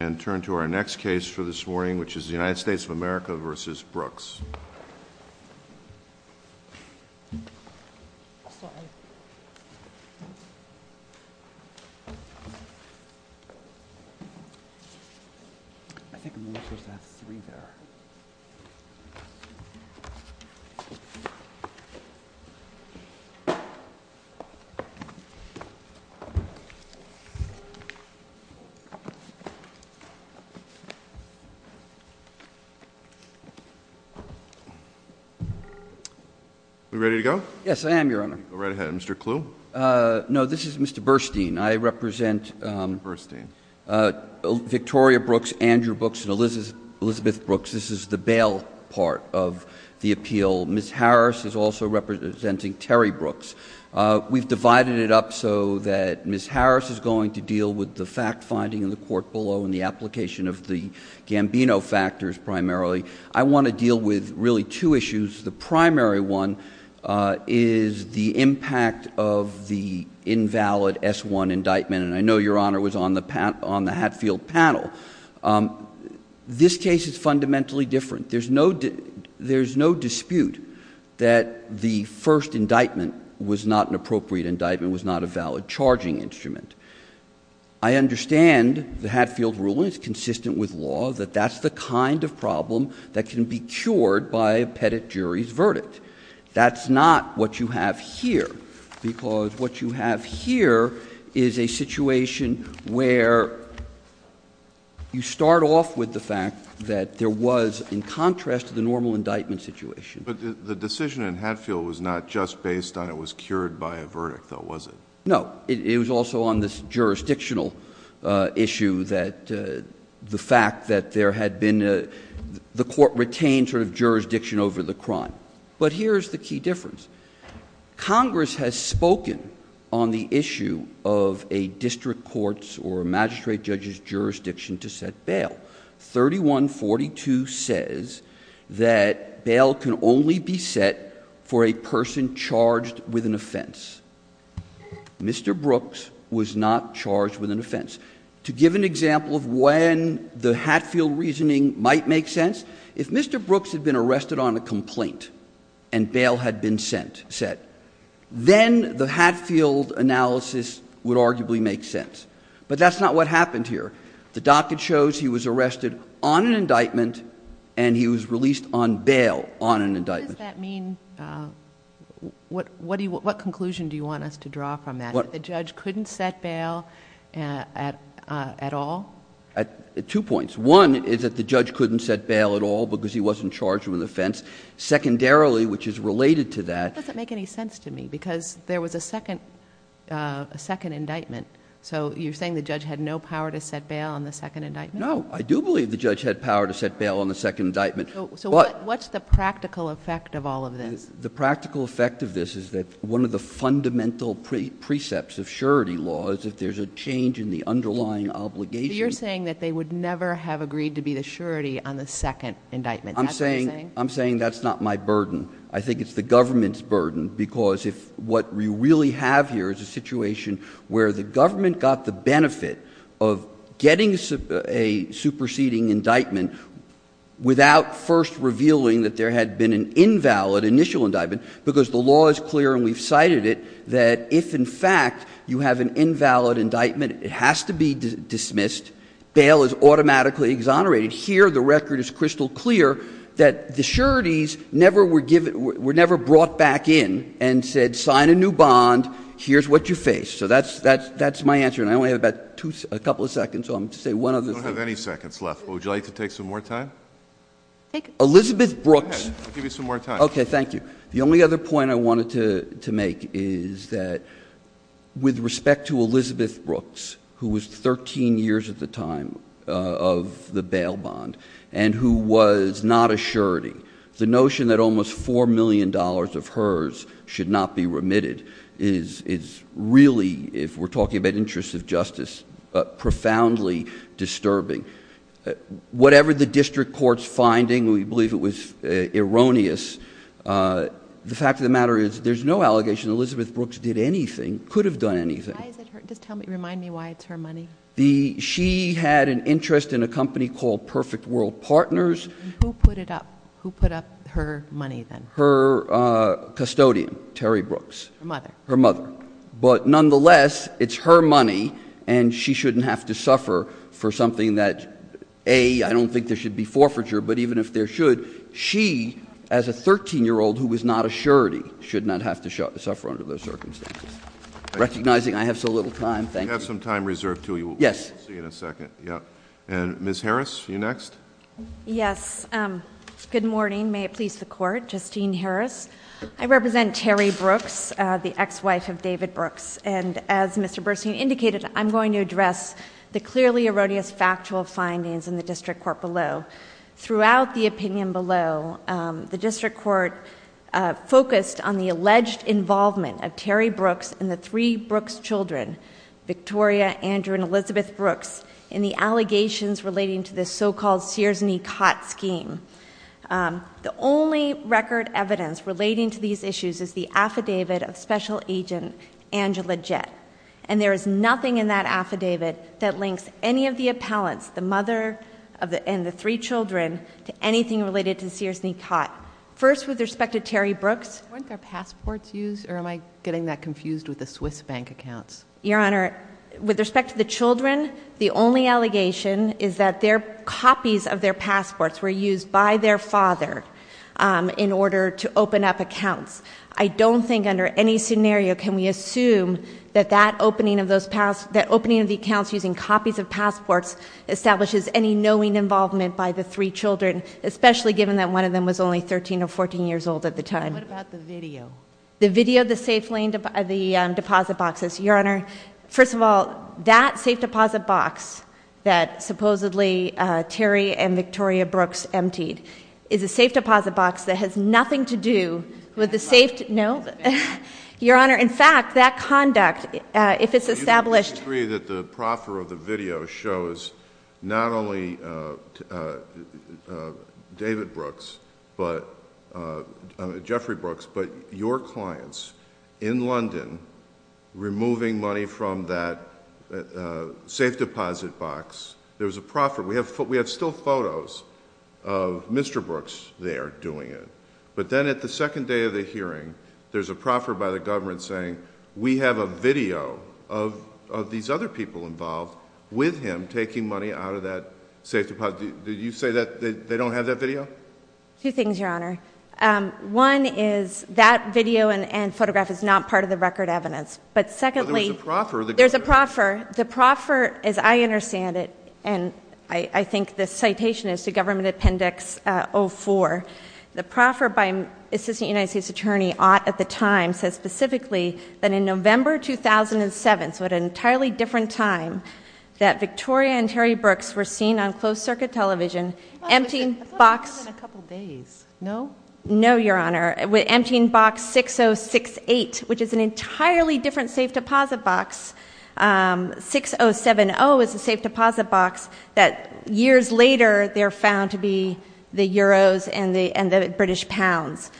And turn to our next case for this morning, which is the United States of America v. Brooks. Are we ready to go? Yes, I am, Your Honor. Go right ahead. Mr. Clue? No, this is Mr. Burstein. I represent Victoria Brooks, Andrew Brooks, and Elizabeth Brooks. This is the bail part of the appeal. Ms. Harris is also representing Terry Brooks. We've divided it up so that Ms. Harris is going to deal with the fact-finding in the court below and the application of the Gambino factors primarily. I want to deal with really two issues. The primary one is the impact of the invalid S-1 indictment, and I know Your Honor was on the Hatfield panel. This case is fundamentally different. There's no dispute that the first indictment was not an appropriate indictment, was not a valid charging instrument. I understand the Hatfield ruling is consistent with law, that that's the kind of problem that can be cured by a pettit jury's verdict. That's not what you have here, because what you have here is a situation where you start off with the fact that there was, in contrast to the normal indictment situation. But the decision in Hatfield was not just based on it was cured by a verdict, though, was it? No, it was also on this jurisdictional issue that the fact that there had been the court retained sort of jurisdiction over the crime. But here's the key difference. Congress has spoken on the issue of a district court's or a magistrate judge's jurisdiction to set bail. 3142 says that bail can only be set for a person charged with an offense. Mr. Brooks was not charged with an offense. To give an example of when the Hatfield reasoning might make sense, if Mr. Brooks had been arrested on a complaint and bail had been set, then the Hatfield analysis would arguably make sense. But that's not what happened here. The docket shows he was arrested on an indictment and he was released on bail on an indictment. What does that mean? What conclusion do you want us to draw from that, that the judge couldn't set bail at all? Two points. One is that the judge couldn't set bail at all because he wasn't charged with an offense. Secondarily, which is related to that. That doesn't make any sense to me, because there was a second indictment. So you're saying the judge had no power to set bail on the second indictment? No. I do believe the judge had power to set bail on the second indictment. So what's the practical effect of all of this? The practical effect of this is that one of the fundamental precepts of surety law is if there's a change in the underlying obligation. You're saying that they would never have agreed to be the surety on the second indictment. I'm saying that's not my burden. I think it's the government's burden, because if what we really have here is a situation where the government got the benefit of getting a superseding indictment without first revealing that there had been an invalid initial indictment, because the law is clear and we've cited it, that if, in fact, you have an invalid indictment, it has to be dismissed. Bail is automatically exonerated. Here, the record is crystal clear that the sureties were never brought back in and said sign a new bond. Here's what you face. So that's my answer. And I only have about a couple of seconds, so I'm going to say one other thing. You don't have any seconds left. Would you like to take some more time? Elizabeth Brooks. Go ahead. I'll give you some more time. Okay. Thank you. The only other point I wanted to make is that with respect to Elizabeth Brooks, who was 13 years at the time of the bail bond and who was not a surety, the notion that almost $4 million of hers should not be remitted is really, if we're talking about interests of justice, profoundly disturbing. Whatever the district court's finding, we believe it was erroneous. The fact of the matter is there's no allegation Elizabeth Brooks did anything, could have done anything. Just remind me why it's her money. She had an interest in a company called Perfect World Partners. Who put it up? Who put up her money then? Her mother. Her mother. But nonetheless, it's her money, and she shouldn't have to suffer for something that, A, I don't think there should be forfeiture, but even if there should, she, as a 13-year-old who was not a surety, should not have to suffer under those circumstances. Recognizing I have so little time, thank you. We have some time reserved to you. Yes. We'll see you in a second. And Ms. Harris, you next? Yes. Good morning. May it please the Court. Justine Harris. I represent Terry Brooks, the ex-wife of David Brooks. And as Mr. Burstein indicated, I'm going to address the clearly erroneous factual findings in the district court below. Throughout the opinion below, the district court focused on the alleged involvement of Terry Brooks and the three Brooks children, Victoria, Andrew, and Elizabeth Brooks, in the allegations relating to the so-called Sears and Ecott scheme. The only record evidence relating to these issues is the affidavit of Special Agent Angela Jett. And there is nothing in that affidavit that links any of the appellants, the mother and the three children, to anything related to Sears and Ecott. First, with respect to Terry Brooks. Weren't their passports used? Or am I getting that confused with the Swiss bank accounts? Your Honor, with respect to the children, the only allegation is that copies of their passports were used by their father in order to open up accounts. I don't think under any scenario can we assume that that opening of the accounts using copies of passports establishes any knowing involvement by the three children, especially given that one of them was only 13 or 14 years old at the time. What about the video? The video of the safe lane deposit boxes. Your Honor, first of all, that safe deposit box that supposedly Terry and Victoria Brooks emptied is a safe deposit box that has nothing to do with the safe deposit box. No. Your Honor, in fact, that conduct, if it's established. I agree that the proffer of the video shows not only David Brooks, Jeffrey Brooks, but your clients in London removing money from that safe deposit box. There's a proffer. We have still photos of Mr. Brooks there doing it. But then at the second day of the hearing, there's a proffer by the government saying, we have a video of these other people involved with him taking money out of that safe deposit. Did you say that they don't have that video? Two things, Your Honor. One is that video and photograph is not part of the record evidence. But secondly. There's a proffer. There's a proffer. The proffer, as I understand it, and I think the citation is to Government Appendix 04. The proffer by Assistant United States Attorney Ott at the time says specifically that in November 2007, so at an entirely different time, that Victoria and Terry Brooks were seen on closed circuit television emptying box. A couple of days. No. No, Your Honor. Emptying box 6068, which is an entirely different safe deposit box. 6070 is a safe deposit box that years later they're found to be the euros and the British pounds.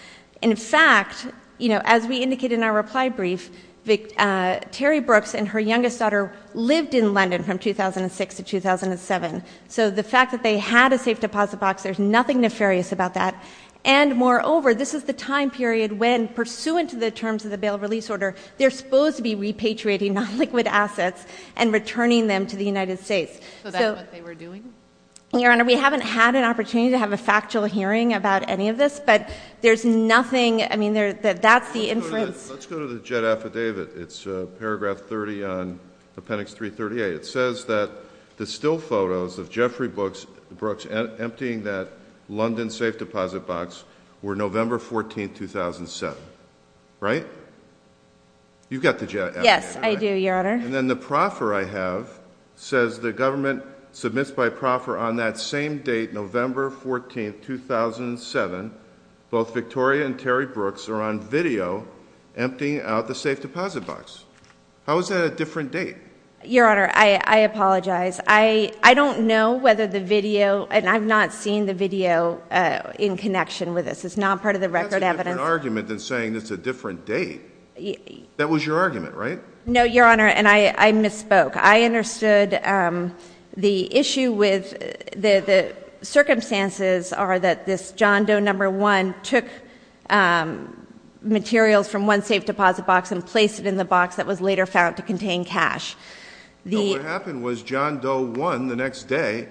In fact, as we indicated in our reply brief, Terry Brooks and her youngest daughter lived in London from 2006 to 2007. So the fact that they had a safe deposit box, there's nothing nefarious about that. And moreover, this is the time period when pursuant to the terms of the bail release order, they're supposed to be repatriating non-liquid assets and returning them to the United States. So that's what they were doing? Your Honor, we haven't had an opportunity to have a factual hearing about any of this. But there's nothing. I mean, that's the inference. Let's go to the jet affidavit. It's paragraph 30 on Appendix 338. It says that the still photos of Jeffrey Brooks emptying that London safe deposit box were November 14, 2007. Right? You've got the jet affidavit, right? Yes, I do, Your Honor. And then the proffer I have says the government submits by proffer on that same date, November 14, 2007, both Victoria and Terry Brooks are on video emptying out the safe deposit box. How is that a different date? Your Honor, I apologize. I don't know whether the video, and I've not seen the video in connection with this. It's not part of the record evidence. That's a different argument than saying it's a different date. That was your argument, right? No, Your Honor, and I misspoke. I understood the issue with the circumstances are that this John Doe No. 1 took materials from one safe deposit box and placed it in the box that was later found to contain cash. No, what happened was John Doe 1, the next day,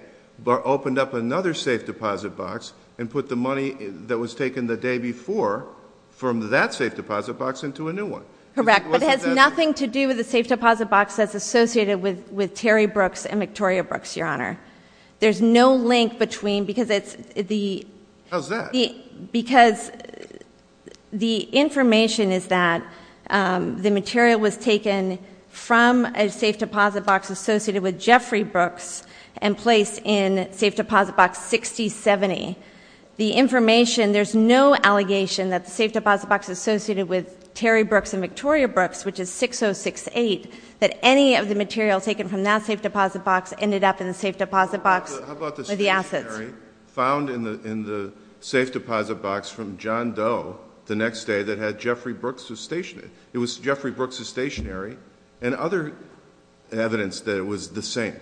opened up another safe deposit box and put the money that was taken the day before from that safe deposit box into a new one. Correct, but it has nothing to do with the safe deposit box that's associated with Terry Brooks and Victoria Brooks, Your Honor. There's no link between, because it's the... How's that? Because the information is that the material was taken from a safe deposit box associated with Jeffrey Brooks and placed in safe deposit box 6070. The information, there's no allegation that the safe deposit box is associated with Terry Brooks and Victoria Brooks, which is 6068, that any of the materials taken from that safe deposit box ended up in the safe deposit box with the assets. How about the stationary found in the safe deposit box from John Doe the next day that had Jeffrey Brooks' stationary? It was Jeffrey Brooks' stationary and other evidence that it was the same.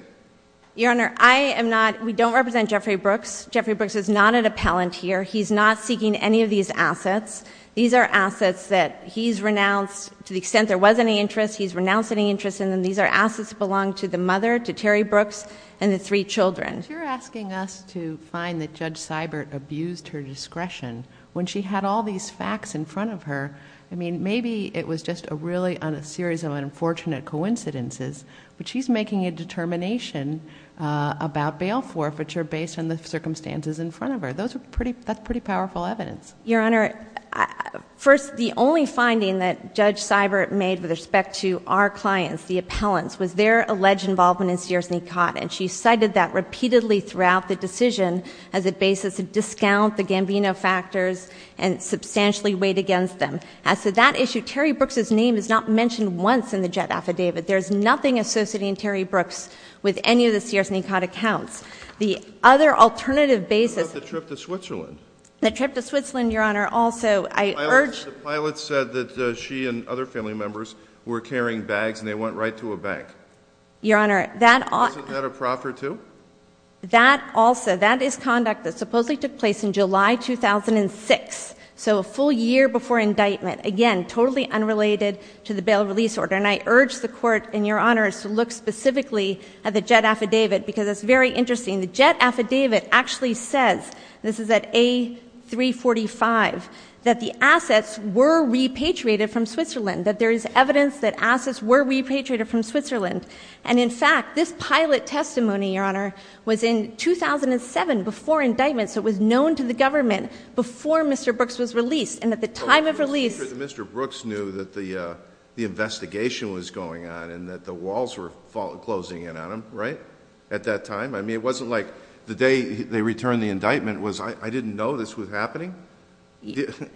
Your Honor, I am not, we don't represent Jeffrey Brooks. Jeffrey Brooks is not an appellant here. He's not seeking any of these assets. These are assets that he's renounced to the extent there was any interest. He's renounced any interest in them. These are assets that belong to the mother, to Terry Brooks, and the three children. You're asking us to find that Judge Seibert abused her discretion when she had all these facts in front of her. I mean, maybe it was just a really, a series of unfortunate coincidences, but she's making a determination about bail forfeiture based on the circumstances in front of her. Those are pretty, that's pretty powerful evidence. Your Honor, first, the only finding that Judge Seibert made with respect to our clients, the appellants, was their alleged involvement in Sears-Nicot, and she cited that repeatedly throughout the decision as a basis to discount the Gambino factors and substantially weight against them. As to that issue, Terry Brooks' name is not mentioned once in the JET affidavit. There's nothing associating Terry Brooks with any of the Sears-Nicot accounts. The other alternative basis— What about the trip to Switzerland? The trip to Switzerland, Your Honor, also, I urge— The pilot said that she and other family members were carrying bags, and they went right to a bank. Your Honor, that— Wasn't that a prof or two? That also, that is conduct that supposedly took place in July 2006, so a full year before indictment. Again, totally unrelated to the bail release order. And I urge the Court, and Your Honor, to look specifically at the JET affidavit, because it's very interesting. The JET affidavit actually says—this is at A345—that the assets were repatriated from Switzerland, that there is evidence that assets were repatriated from Switzerland. And, in fact, this pilot testimony, Your Honor, was in 2007 before indictment, so it was known to the government before Mr. Brooks was released, and at the time of release— I'm sure that Mr. Brooks knew that the investigation was going on and that the walls were closing in on him, right, at that time. I mean, it wasn't like the day they returned the indictment was, I didn't know this was happening.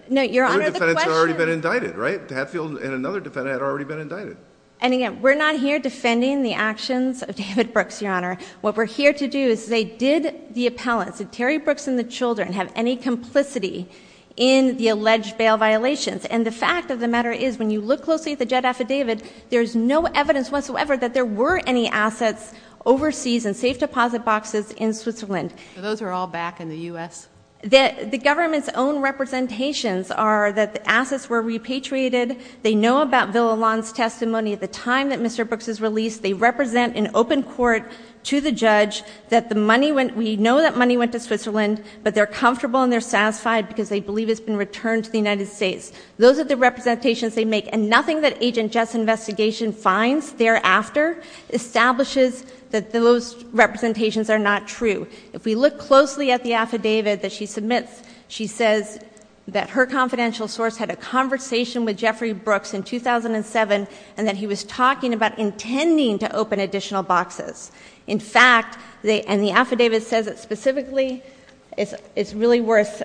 No, Your Honor, the question— Two defendants had already been indicted, right? Hatfield and another defendant had already been indicted. And, again, we're not here defending the actions of David Brooks, Your Honor. What we're here to do is say, did the appellants, Terry Brooks and the children, have any complicity in the alleged bail violations? And the fact of the matter is, when you look closely at the jet affidavit, there's no evidence whatsoever that there were any assets overseas in safe deposit boxes in Switzerland. So those are all back in the U.S.? The government's own representations are that the assets were repatriated. They know about Villalon's testimony at the time that Mr. Brooks was released. They represent an open court to the judge that the money went— they're comfortable and they're satisfied because they believe it's been returned to the United States. Those are the representations they make, and nothing that Agent Jett's investigation finds thereafter establishes that those representations are not true. If we look closely at the affidavit that she submits, she says that her confidential source had a conversation with Jeffrey Brooks in 2007 and that he was talking about intending to open additional boxes. In fact, and the affidavit says it specifically, it's really worth—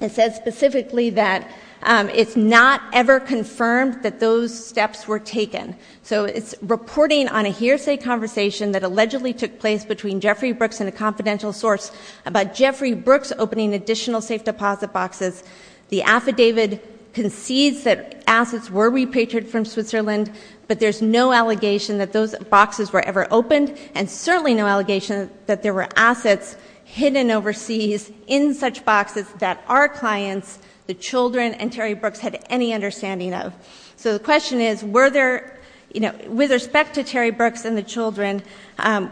it says specifically that it's not ever confirmed that those steps were taken. So it's reporting on a hearsay conversation that allegedly took place between Jeffrey Brooks and a confidential source about Jeffrey Brooks opening additional safe deposit boxes. The affidavit concedes that assets were repatriated from Switzerland, but there's no allegation that those boxes were ever opened, and certainly no allegation that there were assets hidden overseas in such boxes that our clients, the children, and Terry Brooks had any understanding of. So the question is, were there—with respect to Terry Brooks and the children,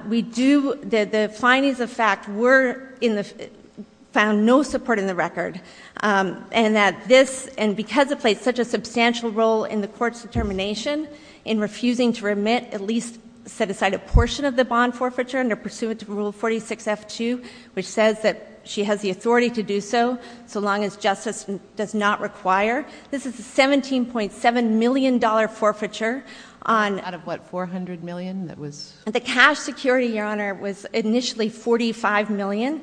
we do—the findings of fact were in the—found no support in the record, and that this—and because it played such a substantial role in the court's determination in refusing to remit at least—set aside a portion of the bond forfeiture under pursuant to Rule 46F2, which says that she has the authority to do so so long as justice does not require. This is a $17.7 million forfeiture on— Out of what, $400 million that was— The cash security, Your Honor, was initially $45 million.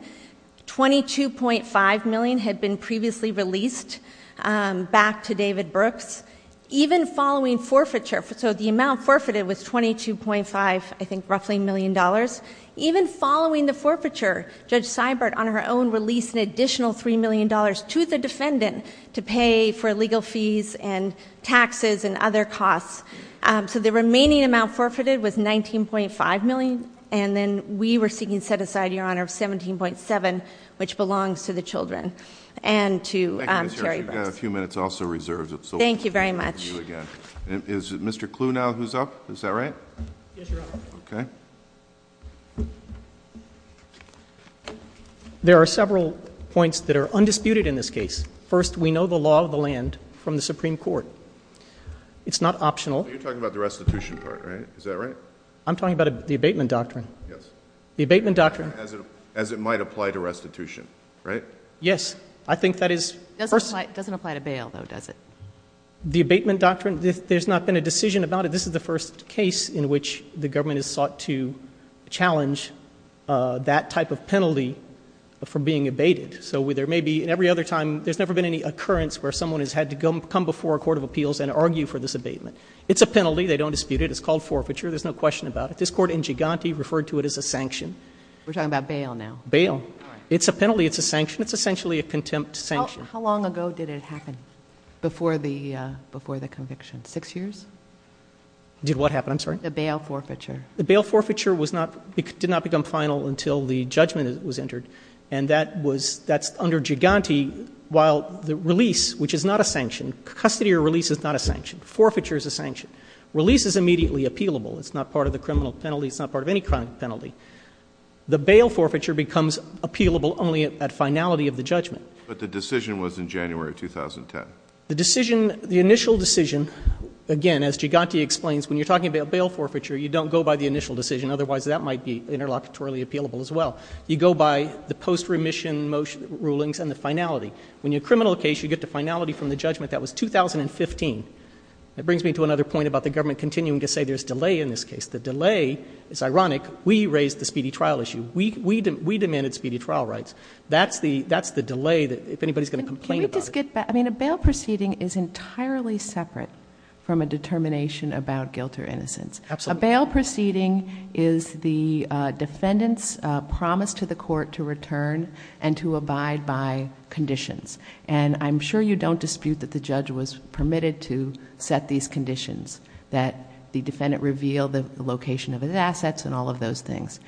$22.5 million had been previously released back to David Brooks. Even following forfeiture—so the amount forfeited was $22.5, I think, roughly, million dollars. Even following the forfeiture, Judge Seibert on her own released an additional $3 million to the defendant to pay for legal fees and taxes and other costs. So the remaining amount forfeited was $19.5 million, and then we were seeking to set aside, Your Honor, $17.7, which belongs to the children and to Terry Brooks. Thank you, Ms. Hirsch. You've got a few minutes also reserved. Thank you very much. Is Mr. Clue now who's up? Is that right? Yes, Your Honor. Okay. There are several points that are undisputed in this case. First, we know the law of the land from the Supreme Court. It's not optional. You're talking about the restitution part, right? Is that right? I'm talking about the abatement doctrine. The abatement doctrine. As it might apply to restitution, right? Yes. I think that is— It doesn't apply to bail, though, does it? The abatement doctrine, there's not been a decision about it. This is the first case in which the government has sought to challenge that type of penalty for being abated. So there may be—and every other time, there's never been any occurrence where someone has had to come before a court of appeals and argue for this abatement. It's a penalty. They don't dispute it. It's called forfeiture. There's no question about it. This Court in Giganti referred to it as a sanction. We're talking about bail now. Bail. It's a penalty. It's a sanction. It's essentially a contempt sanction. How long ago did it happen before the conviction? Six years? Did what happen? I'm sorry? The bail forfeiture. The bail forfeiture did not become final until the judgment was entered, and that's under Giganti. While the release, which is not a sanction—custody or release is not a sanction. Forfeiture is a sanction. Release is immediately appealable. It's not part of the criminal penalty. It's not part of any criminal penalty. The bail forfeiture becomes appealable only at finality of the judgment. But the decision was in January 2010. The decision—the initial decision, again, as Giganti explains, when you're talking about bail forfeiture, you don't go by the initial decision. Otherwise, that might be interlocutorily appealable as well. You go by the post-remission rulings and the finality. When you're a criminal case, you get the finality from the judgment. That was 2015. That brings me to another point about the government continuing to say there's delay in this case. The delay is ironic. We raised the speedy trial issue. We demanded speedy trial rights. That's the delay that—if anybody's going to complain about it. Can we just get—I mean, a bail proceeding is entirely separate from a determination about guilt or innocence. Absolutely. So a bail proceeding is the defendant's promise to the court to return and to abide by conditions. And I'm sure you don't dispute that the judge was permitted to set these conditions, that the defendant revealed the location of his assets and all of those things.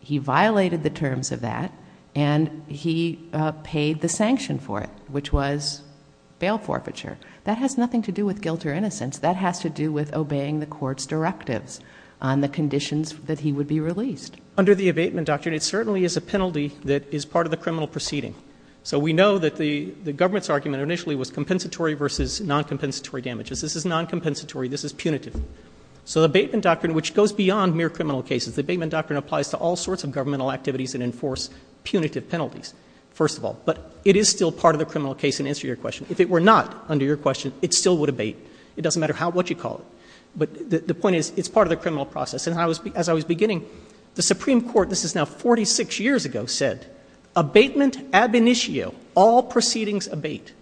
He violated the terms of that, and he paid the sanction for it, which was bail forfeiture. That has nothing to do with guilt or innocence. That has to do with obeying the court's directives on the conditions that he would be released. Under the abatement doctrine, it certainly is a penalty that is part of the criminal proceeding. So we know that the government's argument initially was compensatory versus non-compensatory damages. This is non-compensatory. This is punitive. So the abatement doctrine, which goes beyond mere criminal cases, the abatement doctrine applies to all sorts of governmental activities that enforce punitive penalties, first of all. But it is still part of the criminal case, in answer to your question. If it were not, under your question, it still would abate. It doesn't matter what you call it. But the point is, it's part of the criminal process. And as I was beginning, the Supreme Court, this is now 46 years ago, said abatement ab initio, all proceedings abate.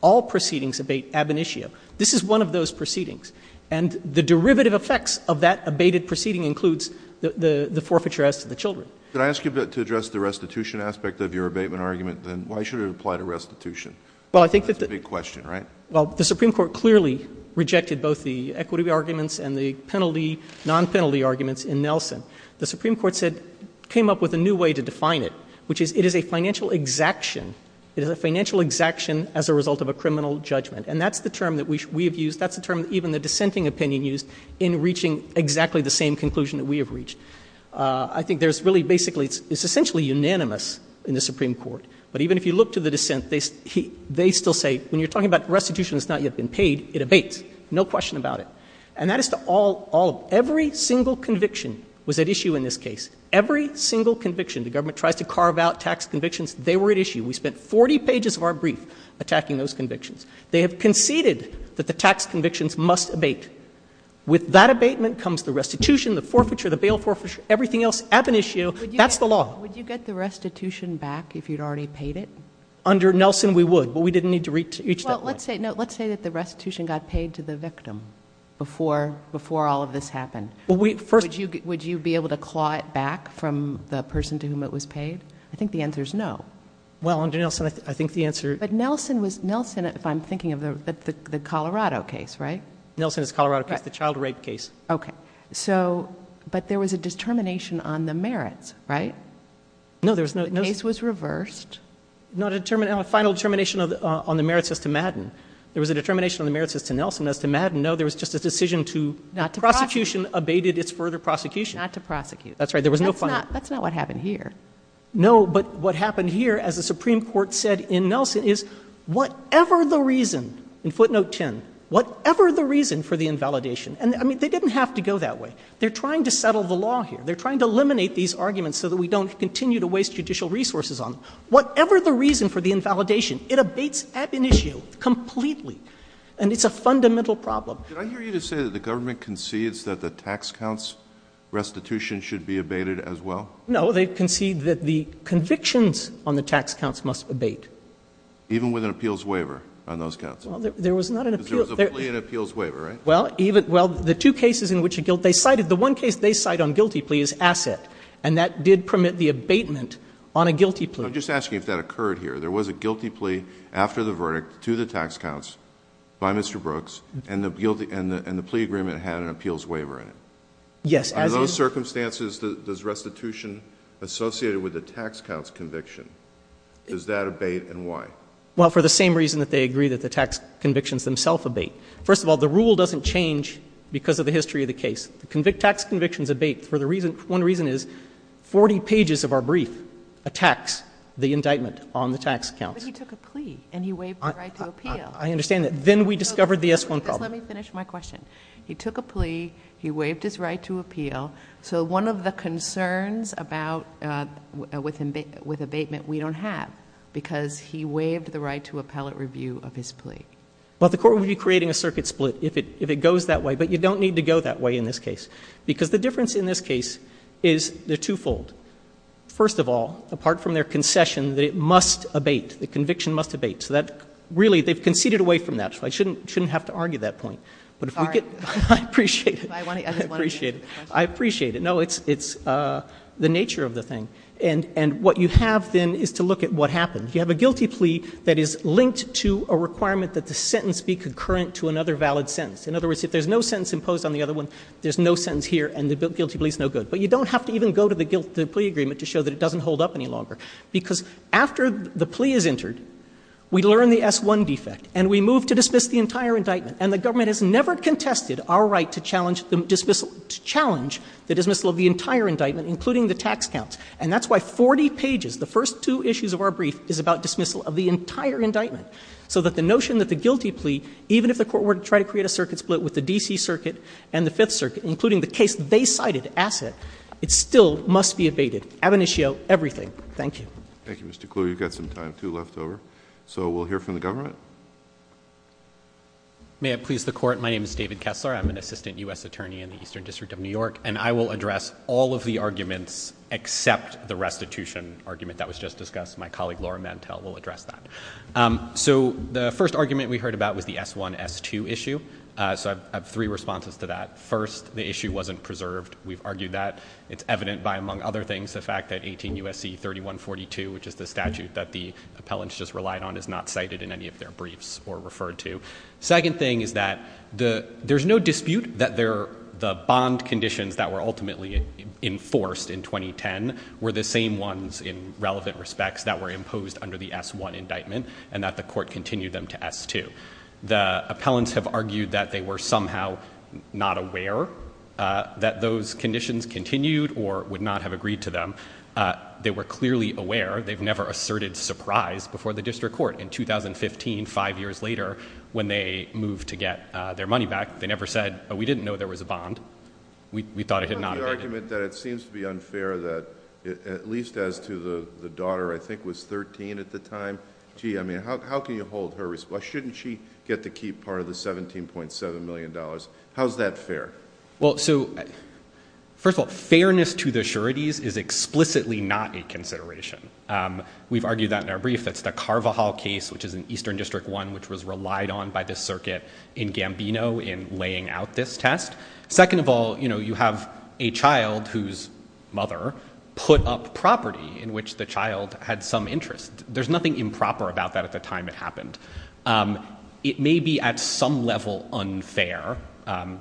All proceedings abate ab initio. This is one of those proceedings. And the derivative effects of that abated proceeding includes the forfeiture as to the children. Could I ask you to address the restitution aspect of your abatement argument, then? Why should it apply to restitution? That's a big question, right? Well, the Supreme Court clearly rejected both the equity arguments and the penalty, non-penalty arguments in Nelson. The Supreme Court said, came up with a new way to define it, which is it is a financial exaction. It is a financial exaction as a result of a criminal judgment. And that's the term that we have used. That's the term that even the dissenting opinion used in reaching exactly the same conclusion that we have reached. I think there's really basically, it's essentially unanimous in the Supreme Court. But even if you look to the dissent, they still say, when you're talking about restitution that's not yet been paid, it abates. No question about it. And that is to all of them. Every single conviction was at issue in this case. Every single conviction. The government tries to carve out tax convictions. They were at issue. We spent 40 pages of our brief attacking those convictions. They have conceded that the tax convictions must abate. With that abatement comes the restitution, the forfeiture, the bail forfeiture, everything else ab initio. That's the law. Would you get the restitution back if you had already paid it? Under Nelson we would. But we didn't need to reach that point. Let's say that the restitution got paid to the victim before all of this happened. Would you be able to claw it back from the person to whom it was paid? I think the answer is no. Well, under Nelson I think the answer. But Nelson, if I'm thinking of the Colorado case, right? Nelson is the Colorado case. The child rape case. Okay. But there was a determination on the merits, right? No, there was no. The case was reversed. No, a final determination on the merits as to Madden. There was a determination on the merits as to Nelson as to Madden. No, there was just a decision to. Not to prosecute. The prosecution abated its further prosecution. Not to prosecute. That's right. There was no final. That's not what happened here. No, but what happened here, as the Supreme Court said in Nelson, is whatever the reason, in footnote 10, whatever the reason for the invalidation. And, I mean, they didn't have to go that way. They're trying to settle the law here. They're trying to eliminate these arguments so that we don't continue to waste judicial resources on them. Whatever the reason for the invalidation, it abates ab initio completely. And it's a fundamental problem. Did I hear you to say that the government concedes that the tax counts restitution should be abated as well? No, they concede that the convictions on the tax counts must abate. Even with an appeals waiver on those counts? Well, there was not an appeal. Because there was a plea and appeals waiver, right? Well, the two cases in which they cited, the one case they cite on guilty plea is asset. And that did permit the abatement on a guilty plea. I'm just asking if that occurred here. There was a guilty plea after the verdict to the tax counts by Mr. Brooks, and the plea agreement had an appeals waiver in it. Yes. Under those circumstances, does restitution associated with the tax counts conviction, does that abate and why? Well, for the same reason that they agree that the tax convictions themselves abate. First of all, the rule doesn't change because of the history of the case. The tax convictions abate for the reason, one reason is 40 pages of our brief attacks the indictment on the tax counts. But he took a plea and he waived the right to appeal. I understand that. Then we discovered the S-1 problem. Let me finish my question. He took a plea. He waived his right to appeal. So one of the concerns about with abatement we don't have because he waived the right to appellate review of his plea. Well, the court would be creating a circuit split if it goes that way. But you don't need to go that way in this case. Because the difference in this case is they're twofold. First of all, apart from their concession that it must abate, the conviction must abate. So that really they've conceded away from that. So I shouldn't have to argue that point. Sorry. I appreciate it. I just want to finish my question. I appreciate it. No, it's the nature of the thing. And what you have then is to look at what happened. You have a guilty plea that is linked to a requirement that the sentence be concurrent to another valid sentence. In other words, if there's no sentence imposed on the other one, there's no sentence here and the guilty plea is no good. But you don't have to even go to the guilty plea agreement to show that it doesn't hold up any longer. Because after the plea is entered, we learn the S-1 defect and we move to dismiss the entire indictment. And the government has never contested our right to challenge the dismissal of the entire indictment, including the tax counts. And that's why 40 pages, the first two issues of our brief, is about dismissal of the entire indictment. So that the notion that the guilty plea, even if the court were to try to create a circuit split with the D.C. Circuit and the Fifth Circuit, including the case they cited, Asset, it still must be abated. Ab initio, everything. Thank you. Thank you, Mr. Kluge. You've got some time, too, left over. So we'll hear from the government. May it please the Court, my name is David Kessler. I'm an assistant U.S. attorney in the Eastern District of New York. And I will address all of the arguments except the restitution argument that was just discussed. My colleague, Laura Mantel, will address that. So the first argument we heard about was the S-1, S-2 issue. So I have three responses to that. First, the issue wasn't preserved. We've argued that. It's evident by, among other things, the fact that 18 U.S.C. 3142, which is the statute that the appellants just relied on, is not cited in any of their briefs or referred to. Second thing is that there's no dispute that the bond conditions that were ultimately enforced in 2010 were the same ones in relevant respects that were imposed under the S-1 indictment and that the court continued them to S-2. The appellants have argued that they were somehow not aware that those conditions continued or would not have agreed to them. They were clearly aware. They've never asserted surprise before the district court. In 2015, five years later, when they moved to get their money back, they never said, oh, we didn't know there was a bond. We thought it had not been. The argument that it seems to be unfair that, at least as to the daughter, I think was 13 at the time, gee, I mean, how can you hold her responsible? Why shouldn't she get to keep part of the $17.7 million? How is that fair? Well, so, first of all, fairness to the sureties is explicitly not a consideration. We've argued that in our brief. That's the Carvajal case, which is an Eastern District one, which was relied on by the circuit in Gambino in laying out this test. Second of all, you have a child whose mother put up property in which the child had some interest. There's nothing improper about that at the time it happened. It may be at some level unfair.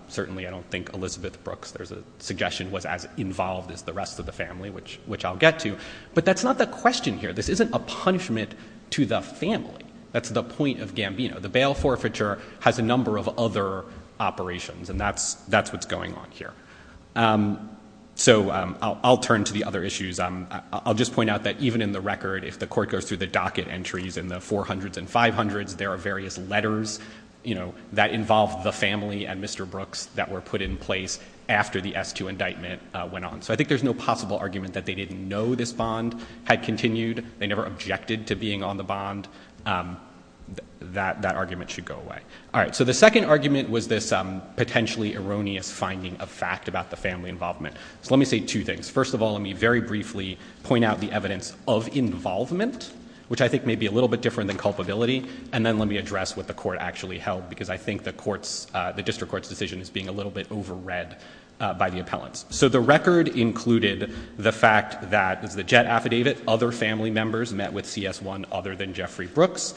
Certainly, I don't think Elizabeth Brooks, there's a suggestion, was as involved as the rest of the family, which I'll get to. But that's not the question here. This isn't a punishment to the family. That's the point of Gambino. The bail forfeiture has a number of other operations, and that's what's going on here. So, I'll turn to the other issues. I'll just point out that even in the record, if the court goes through the docket entries in the 400s and 500s, there are various letters that involve the family and Mr. Brooks that were put in place after the S2 indictment went on. So, I think there's no possible argument that they didn't know this bond had continued. They never objected to being on the bond. That argument should go away. All right. So, the second argument was this potentially erroneous finding of fact about the family involvement. So, let me say two things. First of all, let me very briefly point out the evidence of involvement, which I think may be a little bit different than culpability, and then let me address what the court actually held because I think the district court's decision is being a little bit overread by the appellants. So, the record included the fact that, as the JET affidavit, other family members met with CS1 other than Jeffrey Brooks.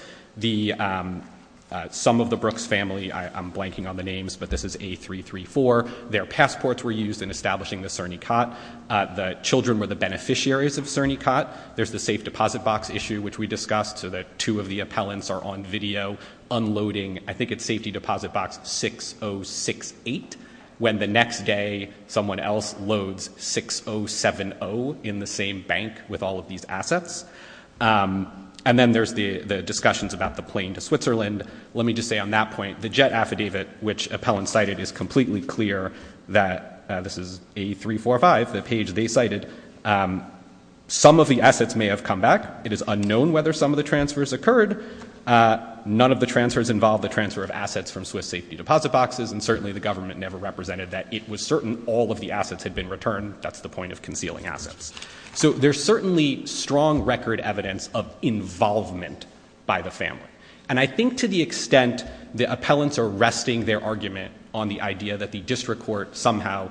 Some of the Brooks family, I'm blanking on the names, but this is A334, their passports were used in establishing the CERNICOT. The children were the beneficiaries of CERNICOT. There's the safe deposit box issue, which we discussed, so that two of the appellants are on video unloading, I think it's safety deposit box 6068, when the next day someone else loads 6070 in the same bank with all of these assets. And then there's the discussions about the plane to Switzerland. Let me just say on that point, the JET affidavit, which appellants cited, is completely clear that this is A345, the page they cited. Some of the assets may have come back. It is unknown whether some of the transfers occurred. None of the transfers involved the transfer of assets from Swiss safety deposit boxes, and certainly the government never represented that it was certain all of the assets had been returned. That's the point of concealing assets. So, there's certainly strong record evidence of involvement by the family. And I think to the extent the appellants are resting their argument on the idea that the district court somehow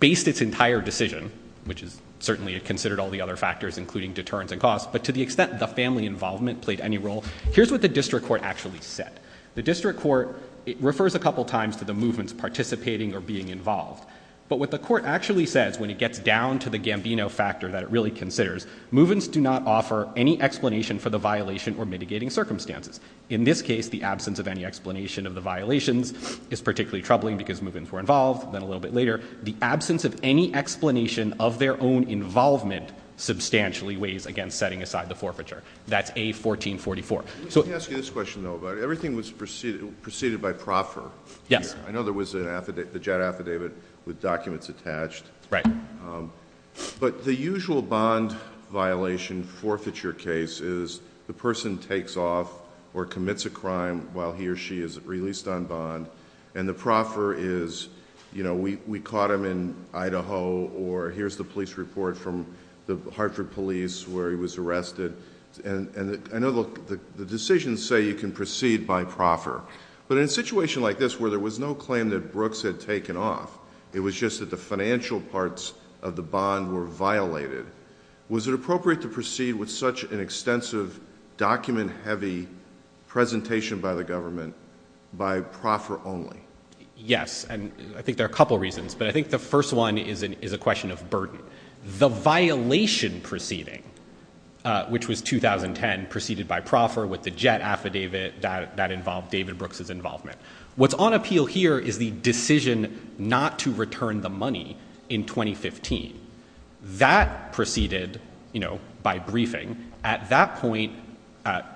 based its entire decision, which is certainly considered all the other factors, including deterrence and cost, but to the extent the family involvement played any role, here's what the district court actually said. The district court, it refers a couple times to the movements participating or being involved. But what the court actually says when it gets down to the Gambino factor that it really considers, movements do not offer any explanation for the violation or mitigating circumstances. In this case, the absence of any explanation of the violations is particularly troubling because movements were involved. Then a little bit later, the absence of any explanation of their own involvement substantially weighs against setting aside the forfeiture. That's A1444. Let me ask you this question, though. Everything was preceded by proffer. Yes. I know there was the JAD affidavit with documents attached. Right. But the usual bond violation forfeiture case is the person takes off or commits a crime while he or she is released on bond, and the proffer is, you know, we caught him in Idaho, or here's the police report from the Hartford police where he was arrested. And I know the decisions say you can proceed by proffer, but in a situation like this where there was no claim that Brooks had taken off, it was just that the financial parts of the bond were violated, was it appropriate to proceed with such an extensive, document-heavy presentation by the government by proffer only? Yes. And I think there are a couple reasons, but I think the first one is a question of burden. The violation proceeding, which was 2010, preceded by proffer with the JAD affidavit that involved David Brooks' involvement. What's on appeal here is the decision not to return the money in 2015. That proceeded, you know, by briefing. At that point,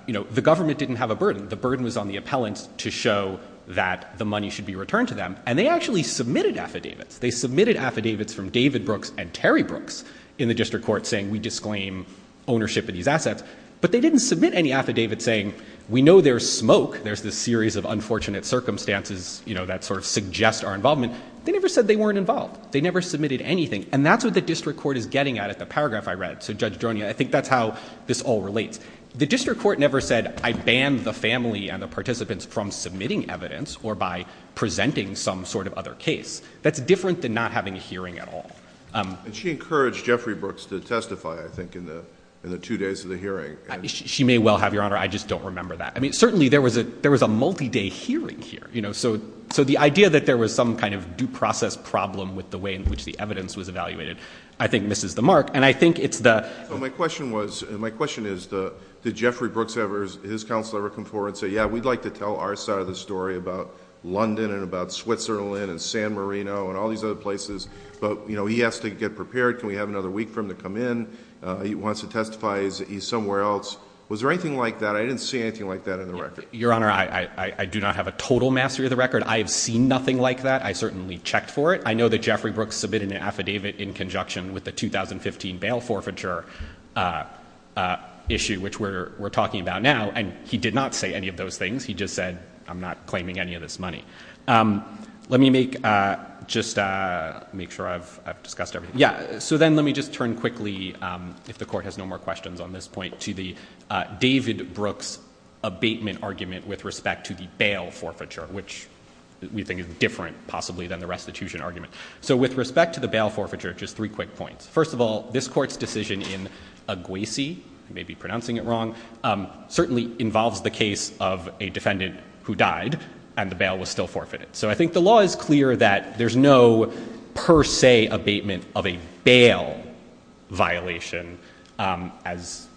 you know, the government didn't have a burden. The burden was on the appellant to show that the money should be returned to them, and they actually submitted affidavits. They submitted affidavits from David Brooks and Terry Brooks in the district court saying we disclaim ownership of these assets, but they didn't submit any affidavits saying we know there's smoke, there's this series of unfortunate circumstances, you know, that sort of suggest our involvement. They never said they weren't involved. They never submitted anything. And that's what the district court is getting at at the paragraph I read. So, Judge Dronia, I think that's how this all relates. The district court never said I banned the family and the participants from submitting evidence or by presenting some sort of other case. That's different than not having a hearing at all. And she encouraged Jeffrey Brooks to testify, I think, in the two days of the hearing. She may well have, Your Honor. I just don't remember that. I mean, certainly there was a multi-day hearing here. So the idea that there was some kind of due process problem with the way in which the evidence was evaluated, I think, misses the mark. And I think it's the – So my question was – my question is did Jeffrey Brooks ever – his counsel ever come forward and say, yeah, we'd like to tell our side of the story about London and about Switzerland and San Marino and all these other places, but, you know, he has to get prepared. Can we have another week for him to come in? He wants to testify. He's somewhere else. Was there anything like that? I didn't see anything like that in the record. Your Honor, I do not have a total mastery of the record. I have seen nothing like that. I certainly checked for it. I know that Jeffrey Brooks submitted an affidavit in conjunction with the 2015 bail forfeiture issue, which we're talking about now, and he did not say any of those things. He just said, I'm not claiming any of this money. Let me make just – make sure I've discussed everything. Yeah, so then let me just turn quickly, if the Court has no more questions on this point, to the David Brooks abatement argument with respect to the bail forfeiture, which we think is different possibly than the restitution argument. So with respect to the bail forfeiture, just three quick points. First of all, this Court's decision in Aguessy – I may be pronouncing it wrong – certainly involves the case of a defendant who died and the bail was still forfeited. So I think the law is clear that there's no per se abatement of a bail violation as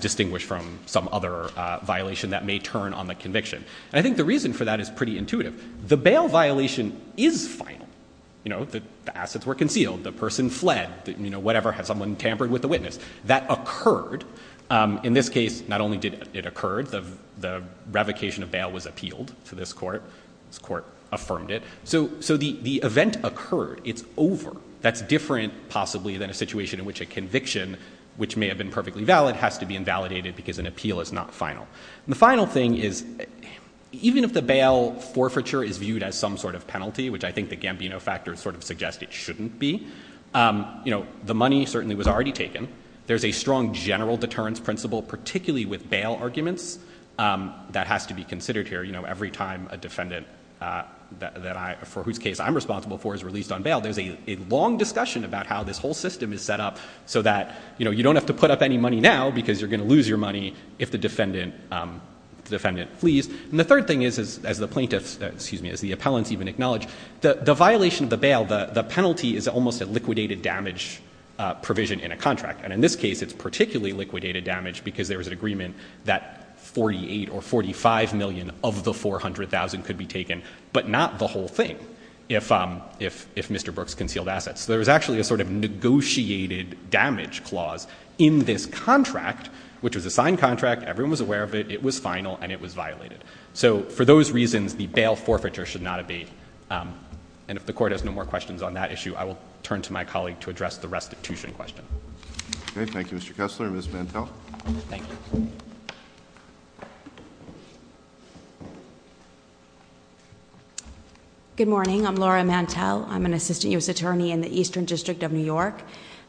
distinguished from some other violation that may turn on the conviction. And I think the reason for that is pretty intuitive. The bail violation is final. You know, the assets were concealed. The person fled. You know, whatever, had someone tampered with the witness. That occurred. In this case, not only did it occur, the revocation of bail was appealed to this Court. This Court affirmed it. So the event occurred. It's over. That's different possibly than a situation in which a conviction, which may have been perfectly valid, has to be invalidated because an appeal is not final. And the final thing is even if the bail forfeiture is viewed as some sort of penalty, which I think the Gambino factor sort of suggests it shouldn't be, you know, the money certainly was already taken. There's a strong general deterrence principle, particularly with bail arguments, that has to be considered here. You know, every time a defendant for whose case I'm responsible for is released on bail, there's a long discussion about how this whole system is set up so that, you know, you don't have to put up any money now because you're going to lose your money if the defendant flees. And the third thing is, as the plaintiffs, excuse me, as the appellants even acknowledge, the violation of the bail, the penalty is almost a liquidated damage provision in a contract. And in this case, it's particularly liquidated damage because there was an agreement that $48 or $45 million of the $400,000 could be taken, but not the whole thing if Mr. Brooks concealed assets. So there was actually a sort of negotiated damage clause in this contract, which was a signed contract, everyone was aware of it, it was final, and it was violated. So for those reasons, the bail forfeiture should not abate. And if the Court has no more questions on that issue, I will turn to my colleague to address the restitution question. Okay, thank you, Mr. Kessler. Ms. Mantel. Thank you. Good morning. I'm Laura Mantel. I'm an Assistant U.S. Attorney in the Eastern District of New York.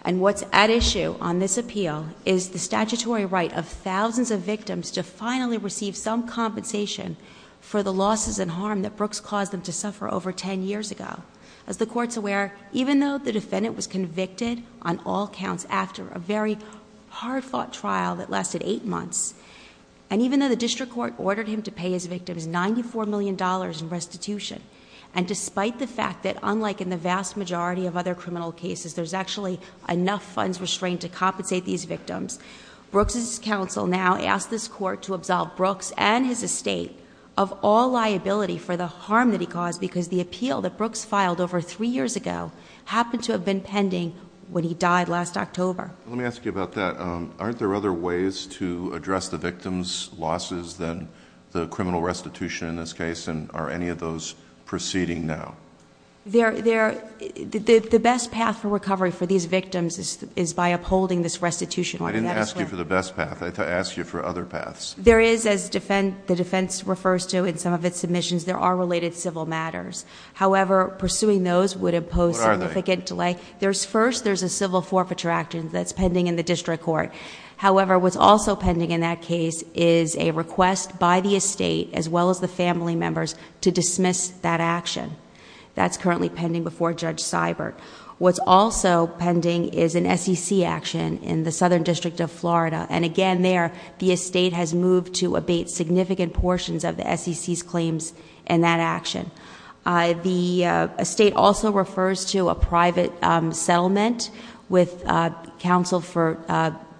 And what's at issue on this appeal is the statutory right of thousands of victims to finally receive some compensation for the losses and harm that Brooks caused them to suffer over ten years ago. As the Court's aware, even though the defendant was convicted on all counts after a very hard-fought trial that lasted eight months, and even though the District Court ordered him to pay his victims $94 million in restitution, and despite the fact that, unlike in the vast majority of other criminal cases, there's actually enough funds restrained to compensate these victims, Brooks' counsel now asks this Court to absolve Brooks and his estate of all liability for the harm that he caused because the appeal that Brooks filed over three years ago happened to have been pending when he died last October. Let me ask you about that. Aren't there other ways to address the victims' losses than the criminal restitution in this case? And are any of those proceeding now? The best path for recovery for these victims is by upholding this restitution. I didn't ask you for the best path. I asked you for other paths. There is, as the defense refers to in some of its submissions, there are related civil matters. However, pursuing those would impose significant delay. What are they? First, there's a civil forfeiture action that's pending in the District Court. However, what's also pending in that case is a request by the estate, as well as the family members, to dismiss that action. That's currently pending before Judge Seibert. What's also pending is an SEC action in the Southern District of Florida, and again there, the estate has moved to abate significant portions of the SEC's claims in that action. The estate also refers to a private settlement with counsel for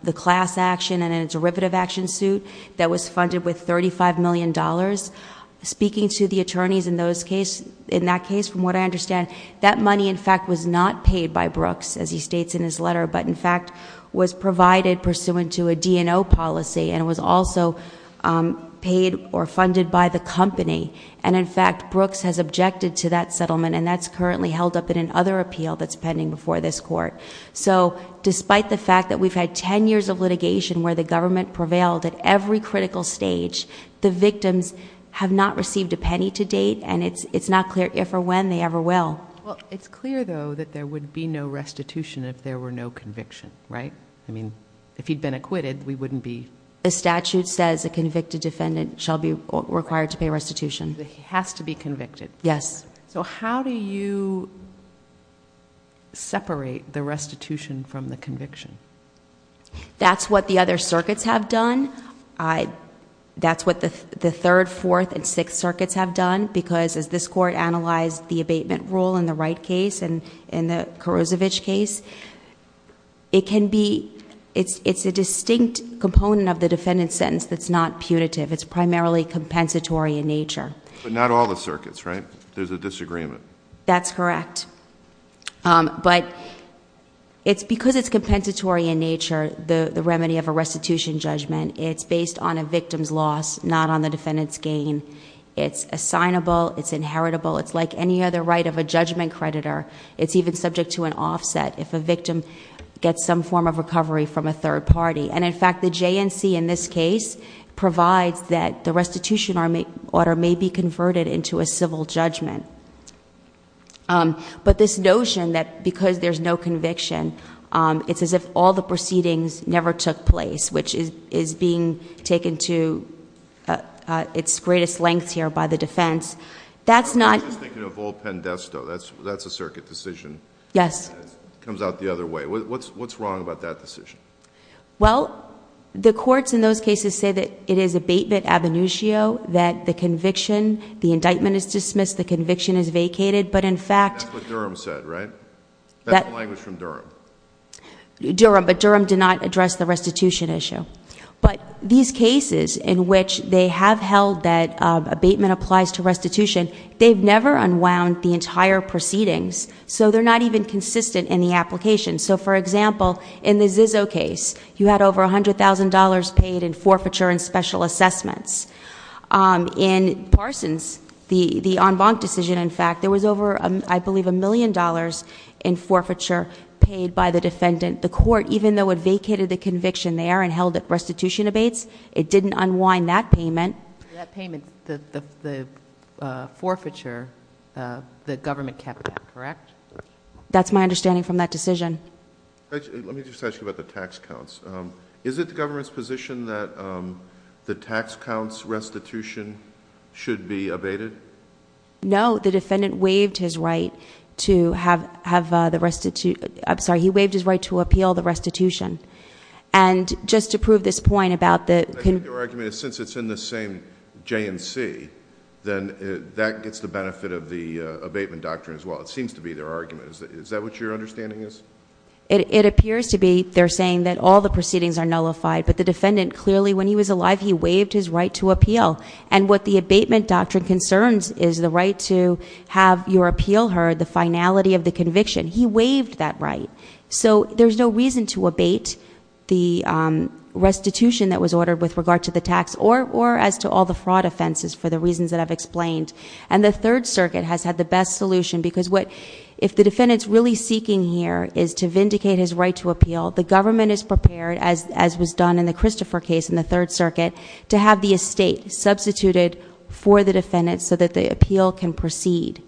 the class action and a derivative action suit that was funded with $35 million. Speaking to the attorneys in that case, from what I understand, that money, in fact, was not paid by Brooks, as he states in his letter, but, in fact, was provided pursuant to a D&O policy and was also paid or funded by the company. And, in fact, Brooks has objected to that settlement, and that's currently held up in another appeal that's pending before this court. So despite the fact that we've had 10 years of litigation where the government prevailed at every critical stage, the victims have not received a penny to date, and it's not clear if or when they ever will. Well, it's clear, though, that there would be no restitution if there were no conviction, right? I mean, if he'd been acquitted, we wouldn't be... The statute says a convicted defendant shall be required to pay restitution. He has to be convicted. Yes. So how do you separate the restitution from the conviction? That's what the other circuits have done. That's what the third, fourth, and sixth circuits have done, because as this court analyzed the abatement rule in the Wright case and in the Karozovich case, it can be... it's a distinct component of the defendant's sentence that's not punitive. It's primarily compensatory in nature. But not all the circuits, right? There's a disagreement. That's correct. But because it's compensatory in nature, the remedy of a restitution judgment, it's based on a victim's loss, not on the defendant's gain. It's assignable. It's inheritable. It's like any other right of a judgment creditor. It's even subject to an offset if a victim gets some form of recovery from a third party. And, in fact, the JNC in this case provides that the restitution order may be converted into a civil judgment. But this notion that because there's no conviction, it's as if all the proceedings never took place, which is being taken to its greatest lengths here by the defense, that's not... I'm just thinking of old Pendesto. That's a circuit decision. Yes. It comes out the other way. What's wrong about that decision? Well, the courts in those cases say that it is abatement ab initio, that the conviction, the indictment is dismissed, the conviction is vacated, but, in fact... That's what Durham said, right? That's the language from Durham. Durham, but Durham did not address the restitution issue. But these cases in which they have held that abatement applies to restitution, they've never unwound the entire proceedings, so they're not even consistent in the application. So, for example, in the Zizzo case, you had over $100,000 paid in forfeiture and special assessments. In Parsons, the en banc decision, in fact, there was over, I believe, $1 million in forfeiture paid by the defendant. The court, even though it vacated the conviction there and held the restitution abates, it didn't unwind that payment. That payment, the forfeiture, the government kept that, correct? That's my understanding from that decision. Let me just ask you about the tax counts. Is it the government's position that the tax counts restitution should be abated? No. The defendant waived his right to have the restitution. I'm sorry. He waived his right to appeal the restitution. And just to prove this point about the... I think their argument is since it's in the same J&C, then that gets the benefit of the abatement doctrine as well. It seems to be their argument. Is that what your understanding is? It appears to be they're saying that all the proceedings are nullified. But the defendant clearly, when he was alive, he waived his right to appeal. And what the abatement doctrine concerns is the right to have your appeal heard, the finality of the conviction. He waived that right. So there's no reason to abate the restitution that was ordered with regard to the tax or as to all the fraud offenses for the reasons that I've explained. And the Third Circuit has had the best solution because if the defendant's really seeking here is to vindicate his right to appeal, the government is prepared, as was done in the Christopher case in the Third Circuit, to have the estate substituted for the defendant so that the appeal can proceed.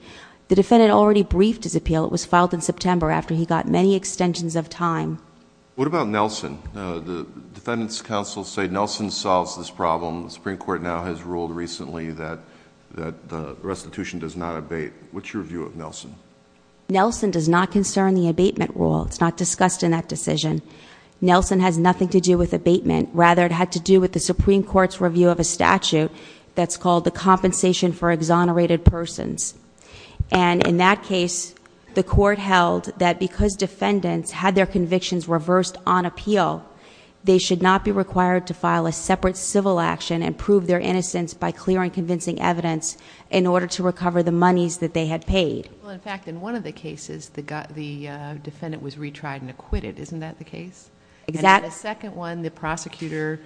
The defendant already briefed his appeal. It was filed in September after he got many extensions of time. What about Nelson? The defendants' counsel say Nelson solves this problem. The Supreme Court now has ruled recently that the restitution does not abate. What's your view of Nelson? Nelson does not concern the abatement rule. It's not discussed in that decision. Nelson has nothing to do with abatement. Rather, it had to do with the Supreme Court's review of a statute that's called the Compensation for Exonerated Persons. And in that case, the court held that because defendants had their convictions reversed on appeal, they should not be required to file a separate civil action and prove their innocence by clearing convincing evidence in order to recover the monies that they had paid. Well, in fact, in one of the cases, the defendant was retried and acquitted. Isn't that the case? Exactly. And in the second one, the prosecutor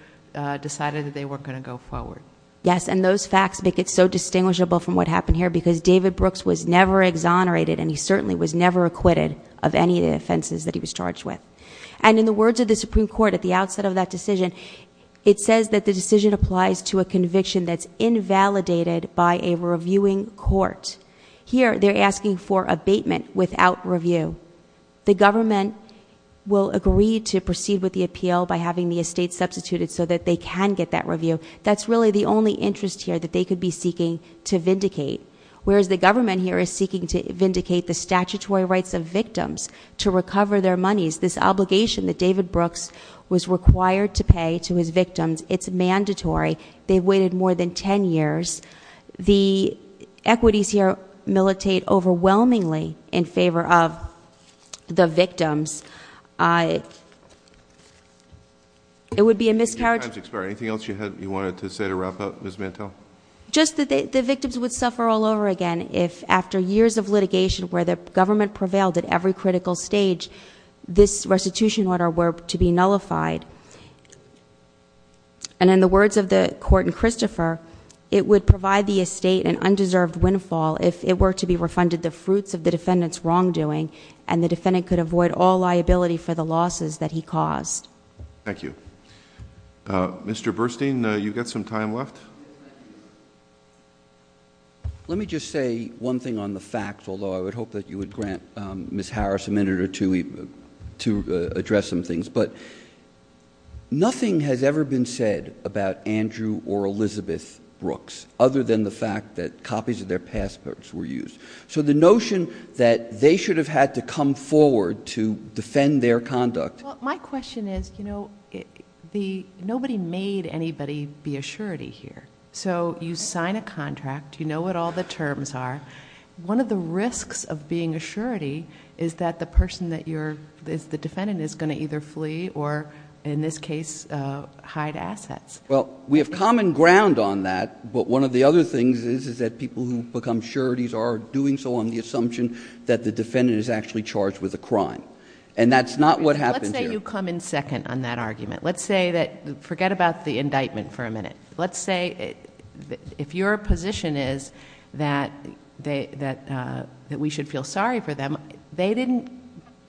decided that they weren't going to go forward. Yes, and those facts make it so distinguishable from what happened here because David Brooks was never exonerated and he certainly was never acquitted of any of the offenses that he was charged with. And in the words of the Supreme Court at the outset of that decision, it says that the decision applies to a conviction that's invalidated by a reviewing court. Here, they're asking for abatement without review. The government will agree to proceed with the appeal by having the estate substituted so that they can get that review. That's really the only interest here that they could be seeking to vindicate, whereas the government here is seeking to vindicate the statutory rights of victims to recover their monies, this obligation that David Brooks was required to pay to his victims. It's mandatory. They've waited more than ten years. The equities here militate overwhelmingly in favor of the victims. It would be a miscarriage. Time's expired. Anything else you wanted to say to wrap up, Ms. Mantel? Just that the victims would suffer all over again if after years of litigation where the government prevailed at every critical stage, this restitution order were to be nullified. And in the words of the court in Christopher, it would provide the estate an undeserved windfall if it were to be refunded the fruits of the defendant's wrongdoing and the defendant could avoid all liability for the losses that he caused. Thank you. Mr. Burstein, you've got some time left. Let me just say one thing on the facts, although I would hope that you would grant Ms. Harris a minute or two to address some things. But nothing has ever been said about Andrew or Elizabeth Brooks other than the fact that copies of their passports were used. So the notion that they should have had to come forward to defend their conduct. Well, my question is, you know, nobody made anybody be a surety here. So you sign a contract. You know what all the terms are. One of the risks of being a surety is that the person that you're the defendant is going to either flee or, in this case, hide assets. Well, we have common ground on that. But one of the other things is that people who become sureties are doing so on the assumption that the defendant is actually charged with a crime. And that's not what happens here. Let's say you come in second on that argument. Let's say that – forget about the indictment for a minute. Let's say if your position is that we should feel sorry for them, they didn't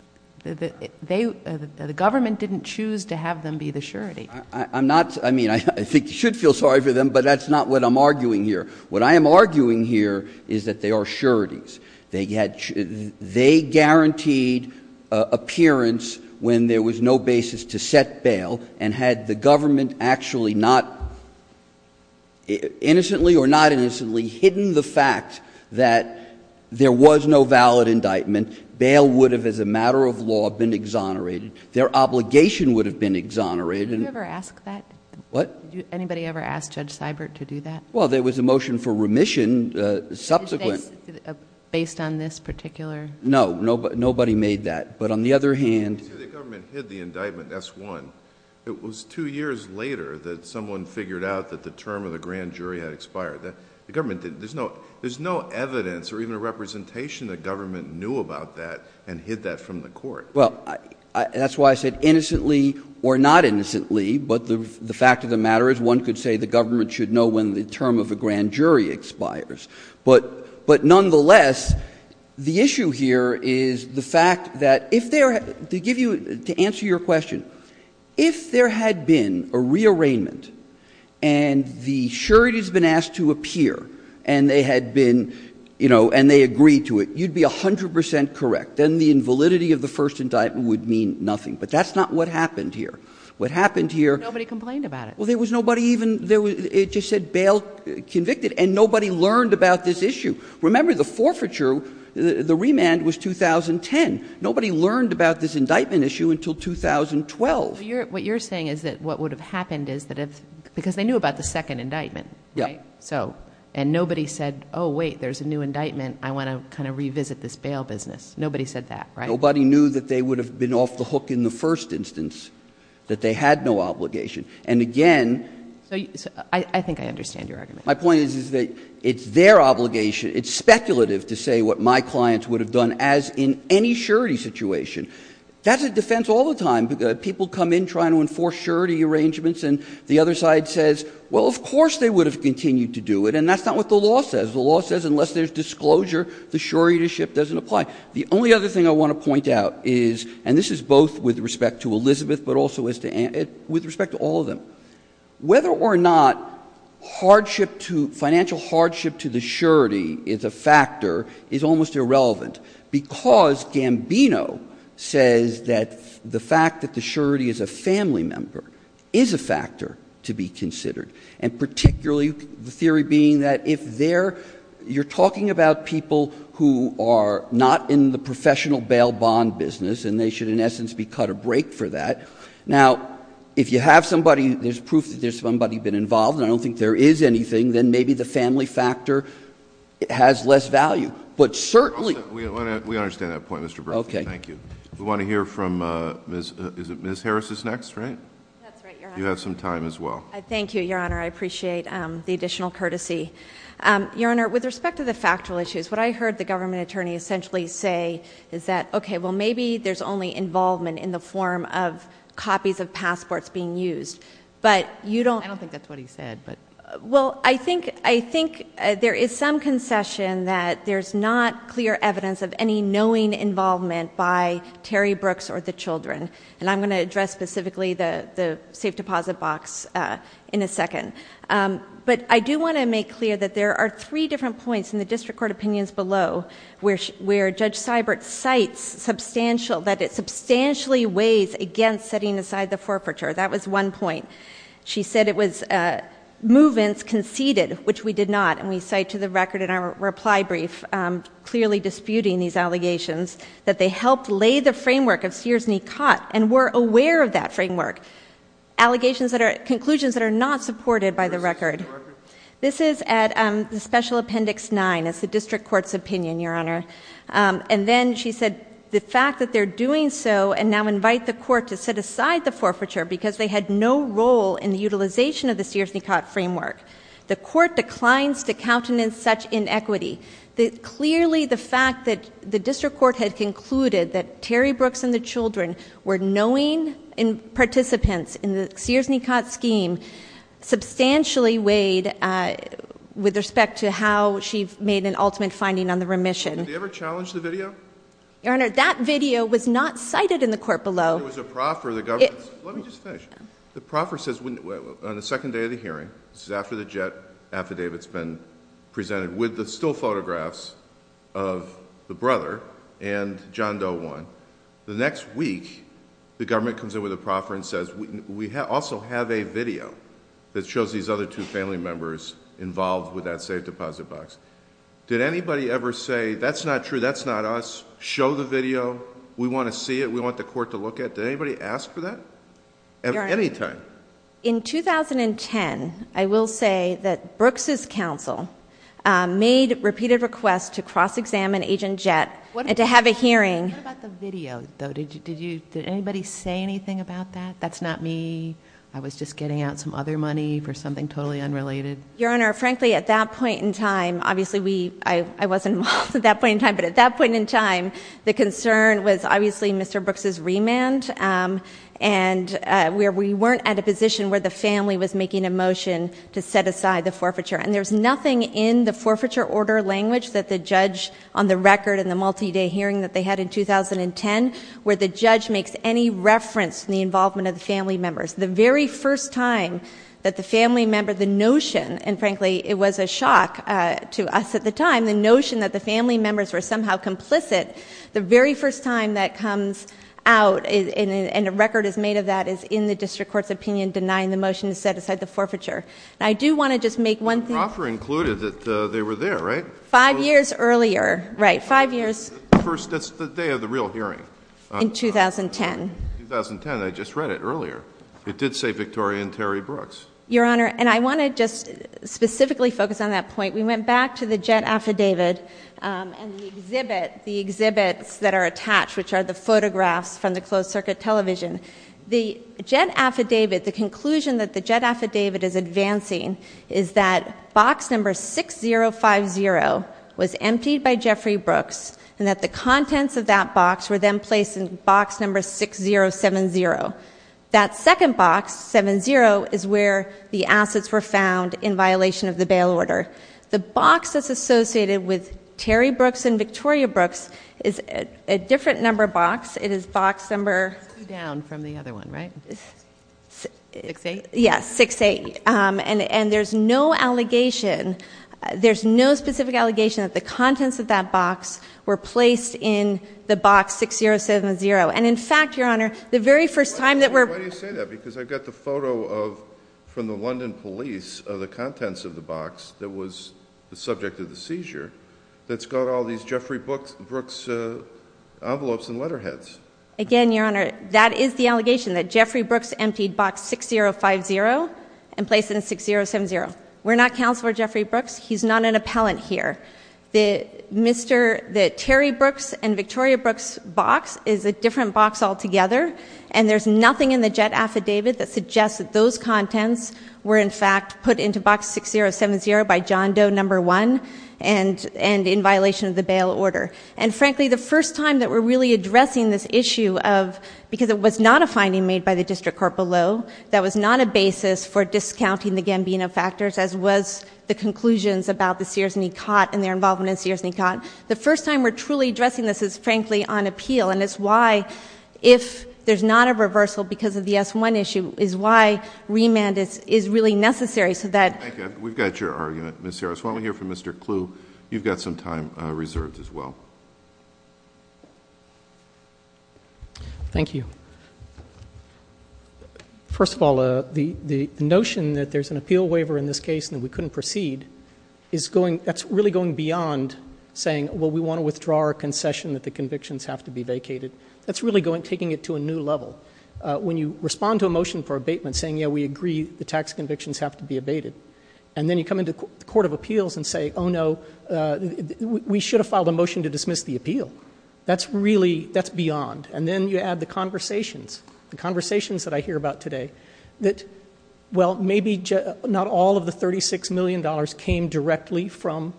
– the government didn't choose to have them be the surety. I'm not – I mean, I think you should feel sorry for them, but that's not what I'm arguing here. What I am arguing here is that they are sureties. They had – they guaranteed appearance when there was no basis to set bail. And had the government actually not innocently or not innocently hidden the fact that there was no valid indictment, bail would have, as a matter of law, been exonerated. Their obligation would have been exonerated. Did you ever ask that? What? Did anybody ever ask Judge Seibert to do that? Well, there was a motion for remission subsequent. Based on this particular – No. Nobody made that. But on the other hand – You say the government hid the indictment, S-1. It was two years later that someone figured out that the term of the grand jury had expired. The government didn't – there's no evidence or even a representation that government knew about that and hid that from the court. Well, that's why I said innocently or not innocently, but the fact of the matter is one could say the government should know when the term of a grand jury expires. But nonetheless, the issue here is the fact that if there – to give you – to answer your question, if there had been a rearrangement and the surety has been asked to appear and they had been – you know, and they agreed to it, you'd be 100 percent correct. Then the invalidity of the first indictment would mean nothing. But that's not what happened here. What happened here – Nobody complained about it. Well, there was nobody even – it just said bail convicted, and nobody learned about this issue. Remember, the forfeiture, the remand was 2010. Nobody learned about this indictment issue until 2012. What you're saying is that what would have happened is that if – because they knew about the second indictment, right? Yeah. So – and nobody said, oh, wait, there's a new indictment. I want to kind of revisit this bail business. Nobody said that, right? Nobody knew that they would have been off the hook in the first instance, that they had no obligation. And again – I think I understand your argument. My point is that it's their obligation, it's speculative to say what my clients would have done as in any surety situation. That's a defense all the time. People come in trying to enforce surety arrangements, and the other side says, well, of course they would have continued to do it. And that's not what the law says. The law says unless there's disclosure, the surety doesn't apply. The only other thing I want to point out is – and this is both with respect to Elizabeth, but also with respect to all of them. Whether or not hardship to – financial hardship to the surety is a factor is almost irrelevant, because Gambino says that the fact that the surety is a family member is a factor to be considered, and particularly the theory being that if they're – you're talking about people who are not in the professional bail bond business, and they should in essence be cut a break for that. Now, if you have somebody – there's proof that there's somebody been involved, and I don't think there is anything, then maybe the family factor has less value. But certainly – We understand that point, Mr. Berkley. Okay. Thank you. We want to hear from – is it Ms. Harris is next, right? That's right. You have some time as well. Thank you, Your Honor. I appreciate the additional courtesy. Your Honor, with respect to the factual issues, what I heard the government attorney essentially say is that, okay, well, maybe there's only involvement in the form of copies of passports being used. But you don't – I don't think that's what he said. Well, I think there is some concession that there's not clear evidence of any knowing involvement by Terry Brooks or the children. And I'm going to address specifically the safe deposit box in a second. But I do want to make clear that there are three different points in the district court opinions below where Judge Seibert cites substantial – that it substantially weighs against setting aside the forfeiture. That was one point. She said it was movements conceded, which we did not, and we cite to the record in our reply brief clearly disputing these allegations, that they helped lay the framework of Sears-Nicot and were aware of that framework, conclusions that are not supported by the record. This is at Special Appendix 9. It's the district court's opinion, Your Honor. And then she said the fact that they're doing so and now invite the court to set aside the forfeiture because they had no role in the utilization of the Sears-Nicot framework. The court declines to countenance such inequity. Clearly the fact that the district court had concluded that Terry Brooks and the children were knowing participants in the Sears-Nicot scheme substantially weighed with respect to how she made an ultimate finding on the remission. Did they ever challenge the video? Your Honor, that video was not cited in the court below. It was a proffer. Let me just finish. The proffer says on the second day of the hearing, this is after the jet affidavit's been presented, with the still photographs of the brother and John Doe 1. The next week, the government comes in with a proffer and says, we also have a video that shows these other two family members involved with that safe deposit box. Did anybody ever say, that's not true, that's not us, show the video, we want to see it, we want the court to look at it? Did anybody ask for that at any time? In 2010, I will say that Brooks' counsel made repeated requests to cross-examine Agent Jett and to have a hearing. What about the video? Did anybody say anything about that, that's not me, I was just getting out some other money for something totally unrelated? Your Honor, frankly, at that point in time, obviously I wasn't involved at that point in time, but at that point in time, the concern was obviously Mr. Brooks' remand, and we weren't at a position where the family was making a motion to set aside the forfeiture. And there's nothing in the forfeiture order language that the judge, on the record in the multi-day hearing that they had in 2010, where the judge makes any reference to the involvement of the family members. The very first time that the family member, the notion, and frankly it was a shock to us at the time, the notion that the family members were somehow complicit, the very first time that comes out, and a record is made of that, is in the district court's opinion denying the motion to set aside the forfeiture. And I do want to just make one thing... The offer included that they were there, right? Five years earlier, right, five years... That's the day of the real hearing. In 2010. In 2010, I just read it earlier. It did say Victoria and Terry Brooks. Your Honor, and I want to just specifically focus on that point. We went back to the jet affidavit and the exhibit, the exhibits that are attached, which are the photographs from the closed circuit television. The jet affidavit, the conclusion that the jet affidavit is advancing, is that box number 6050 was emptied by Jeffrey Brooks, and that the contents of that box were then placed in box number 6070. That second box, 70, is where the assets were found in violation of the bail order. The box that's associated with Terry Brooks and Victoria Brooks is a different number box. It is box number... Two down from the other one, right? 68? Yes, 68. And there's no allegation... There's no specific allegation that the contents of that box were placed in the box 6070. And, in fact, Your Honor, the very first time that we're... Why do you say that? Because I've got the photo from the London police of the contents of the box that was the subject of the seizure that's got all these Jeffrey Brooks envelopes and letterheads. Again, Your Honor, that is the allegation, that Jeffrey Brooks emptied box 6050 and placed it in 6070. We're not Counselor Jeffrey Brooks. He's not an appellant here. The Terry Brooks and Victoria Brooks box is a different box altogether, and there's nothing in the JET affidavit that suggests that those contents were, in fact, put into box 6070 by John Doe, number one, and in violation of the bail order. And, frankly, the first time that we're really addressing this issue of... because it was not a finding made by the district court below. That was not a basis for discounting the Gambino factors, as was the conclusions about the Sears-Nicot and their involvement in Sears-Nicot. The first time we're truly addressing this is, frankly, on appeal, and it's why, if there's not a reversal because of the S-1 issue, is why remand is really necessary so that... Thank you. We've got your argument, Ms. Harris. Why don't we hear from Mr. Kluh. You've got some time reserved as well. Thank you. First of all, the notion that there's an appeal waiver in this case and that we couldn't proceed is going... that's really going beyond saying, well, we want to withdraw our concession that the convictions have to be vacated. That's really going... taking it to a new level. When you respond to a motion for abatement saying, yeah, we agree the tax convictions have to be abated, and then you come into the Court of Appeals and say, oh, no, we should have filed a motion to dismiss the appeal. That's really... that's beyond. And then you add the conversations, the conversations that I hear about today that, well, maybe not all of the $36 million came directly from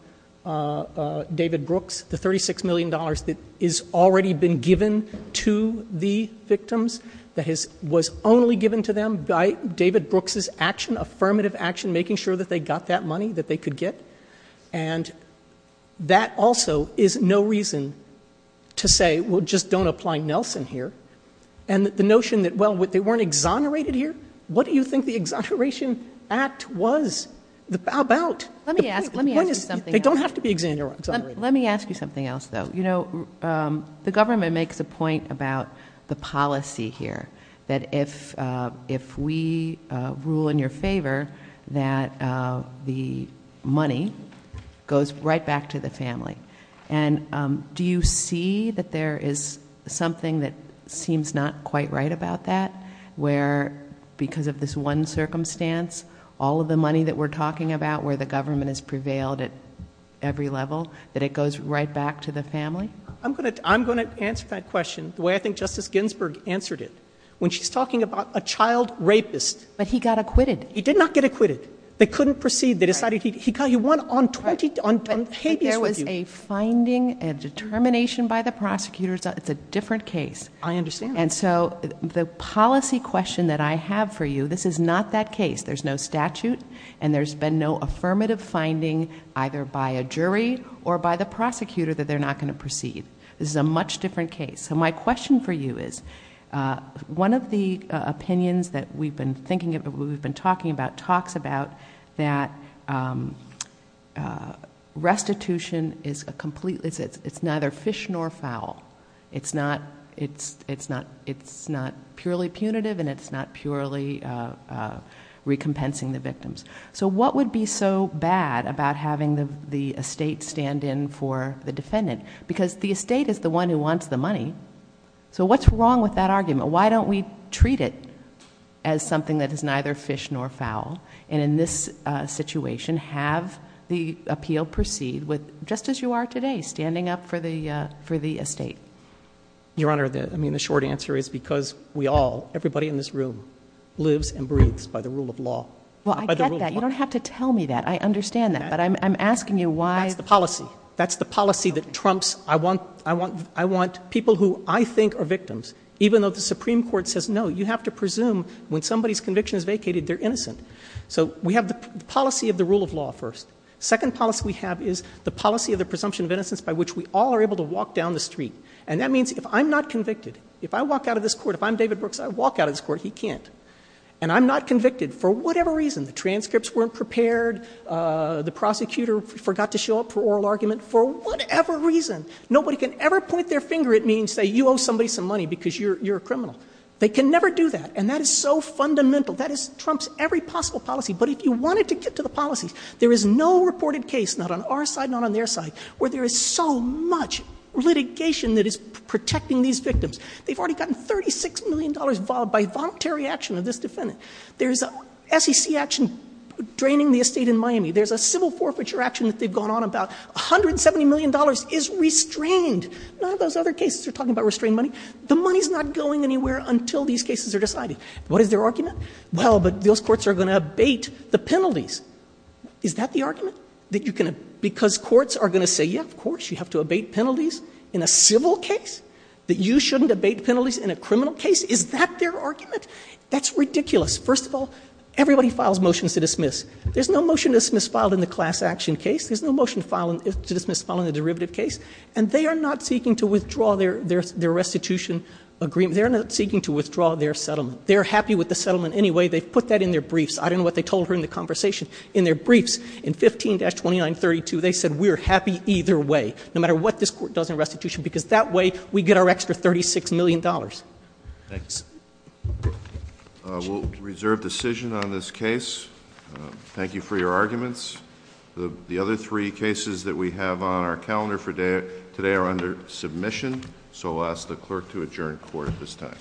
David Brooks. The $36 million that has already been given to the victims, that has... was only given to them by David Brooks' action, affirmative action, making sure that they got that money that they could get. And that also is no reason to say, well, just don't apply Nelson here. And the notion that, well, they weren't exonerated here? What do you think the Exoneration Act was about? Let me ask you something else. They don't have to be exonerated. Let me ask you something else, though. You know, the government makes a point about the policy here, that if we rule in your favor, that the money goes right back to the family. And do you see that there is something that seems not quite right about that, where because of this one circumstance, all of the money that we're talking about, where the government has prevailed at every level, that it goes right back to the family? I'm going to answer that question the way I think Justice Ginsburg answered it. When she's talking about a child rapist... But he got acquitted. He did not get acquitted. They couldn't proceed. They decided he won on 20... But there was a finding, a determination by the prosecutors. It's a different case. I understand. And so the policy question that I have for you, this is not that case. There's no statute. And there's been no affirmative finding, either by a jury or by the prosecutor, that they're not going to proceed. This is a much different case. So my question for you is, one of the opinions that we've been thinking about, that we've been talking about, talks about that restitution is a complete... It's neither fish nor fowl. It's not purely punitive, and it's not purely recompensing the victims. So what would be so bad about having the estate stand in for the defendant? Because the estate is the one who wants the money. So what's wrong with that argument? Why don't we treat it as something that is neither fish nor fowl, and in this situation, have the appeal proceed just as you are today, standing up for the estate? Your Honor, the short answer is because we all, everybody in this room, lives and breathes by the rule of law. Well, I get that. You don't have to tell me that. I understand that. But I'm asking you why... That's the policy. That's the policy that trumps... I want people who I think are victims, even though the Supreme Court says, no, you have to presume when somebody's conviction is vacated, they're innocent. So we have the policy of the rule of law first. The second policy we have is the policy of the presumption of innocence by which we all are able to walk down the street. And that means if I'm not convicted, if I walk out of this court, if I'm David Brooks, I walk out of this court, he can't. And I'm not convicted for whatever reason. The transcripts weren't prepared. The prosecutor forgot to show up for oral argument for whatever reason. Nobody can ever point their finger at me and say, you owe somebody some money because you're a criminal. They can never do that. And that is so fundamental. That trumps every possible policy. But if you wanted to get to the policies, there is no reported case, not on our side, not on their side, where there is so much litigation that is protecting these victims. They've already gotten $36 million by voluntary action of this defendant. There's SEC action draining the estate in Miami. There's a civil forfeiture action that they've gone on about. $170 million is restrained. None of those other cases are talking about restrained money. The money is not going anywhere until these cases are decided. What is their argument? Well, but those courts are going to abate the penalties. Is that the argument? That you can, because courts are going to say, yes, of course, you have to abate penalties in a civil case, that you shouldn't abate penalties in a criminal case? Is that their argument? That's ridiculous. First of all, everybody files motions to dismiss. There's no motion to dismiss filed in the class action case. There's no motion to dismiss filed in the derivative case. And they are not seeking to withdraw their restitution agreement. They're not seeking to withdraw their settlement. They're happy with the settlement anyway. They've put that in their briefs. I don't know what they told her in the conversation. In their briefs, in 15-2932, they said, we're happy either way, no matter what this court does in restitution, because that way we get our extra $36 million. Thanks. We'll reserve decision on this case. Thank you for your arguments. The other three cases that we have on our calendar for today are under submission, so I'll ask the clerk to adjourn court at this time.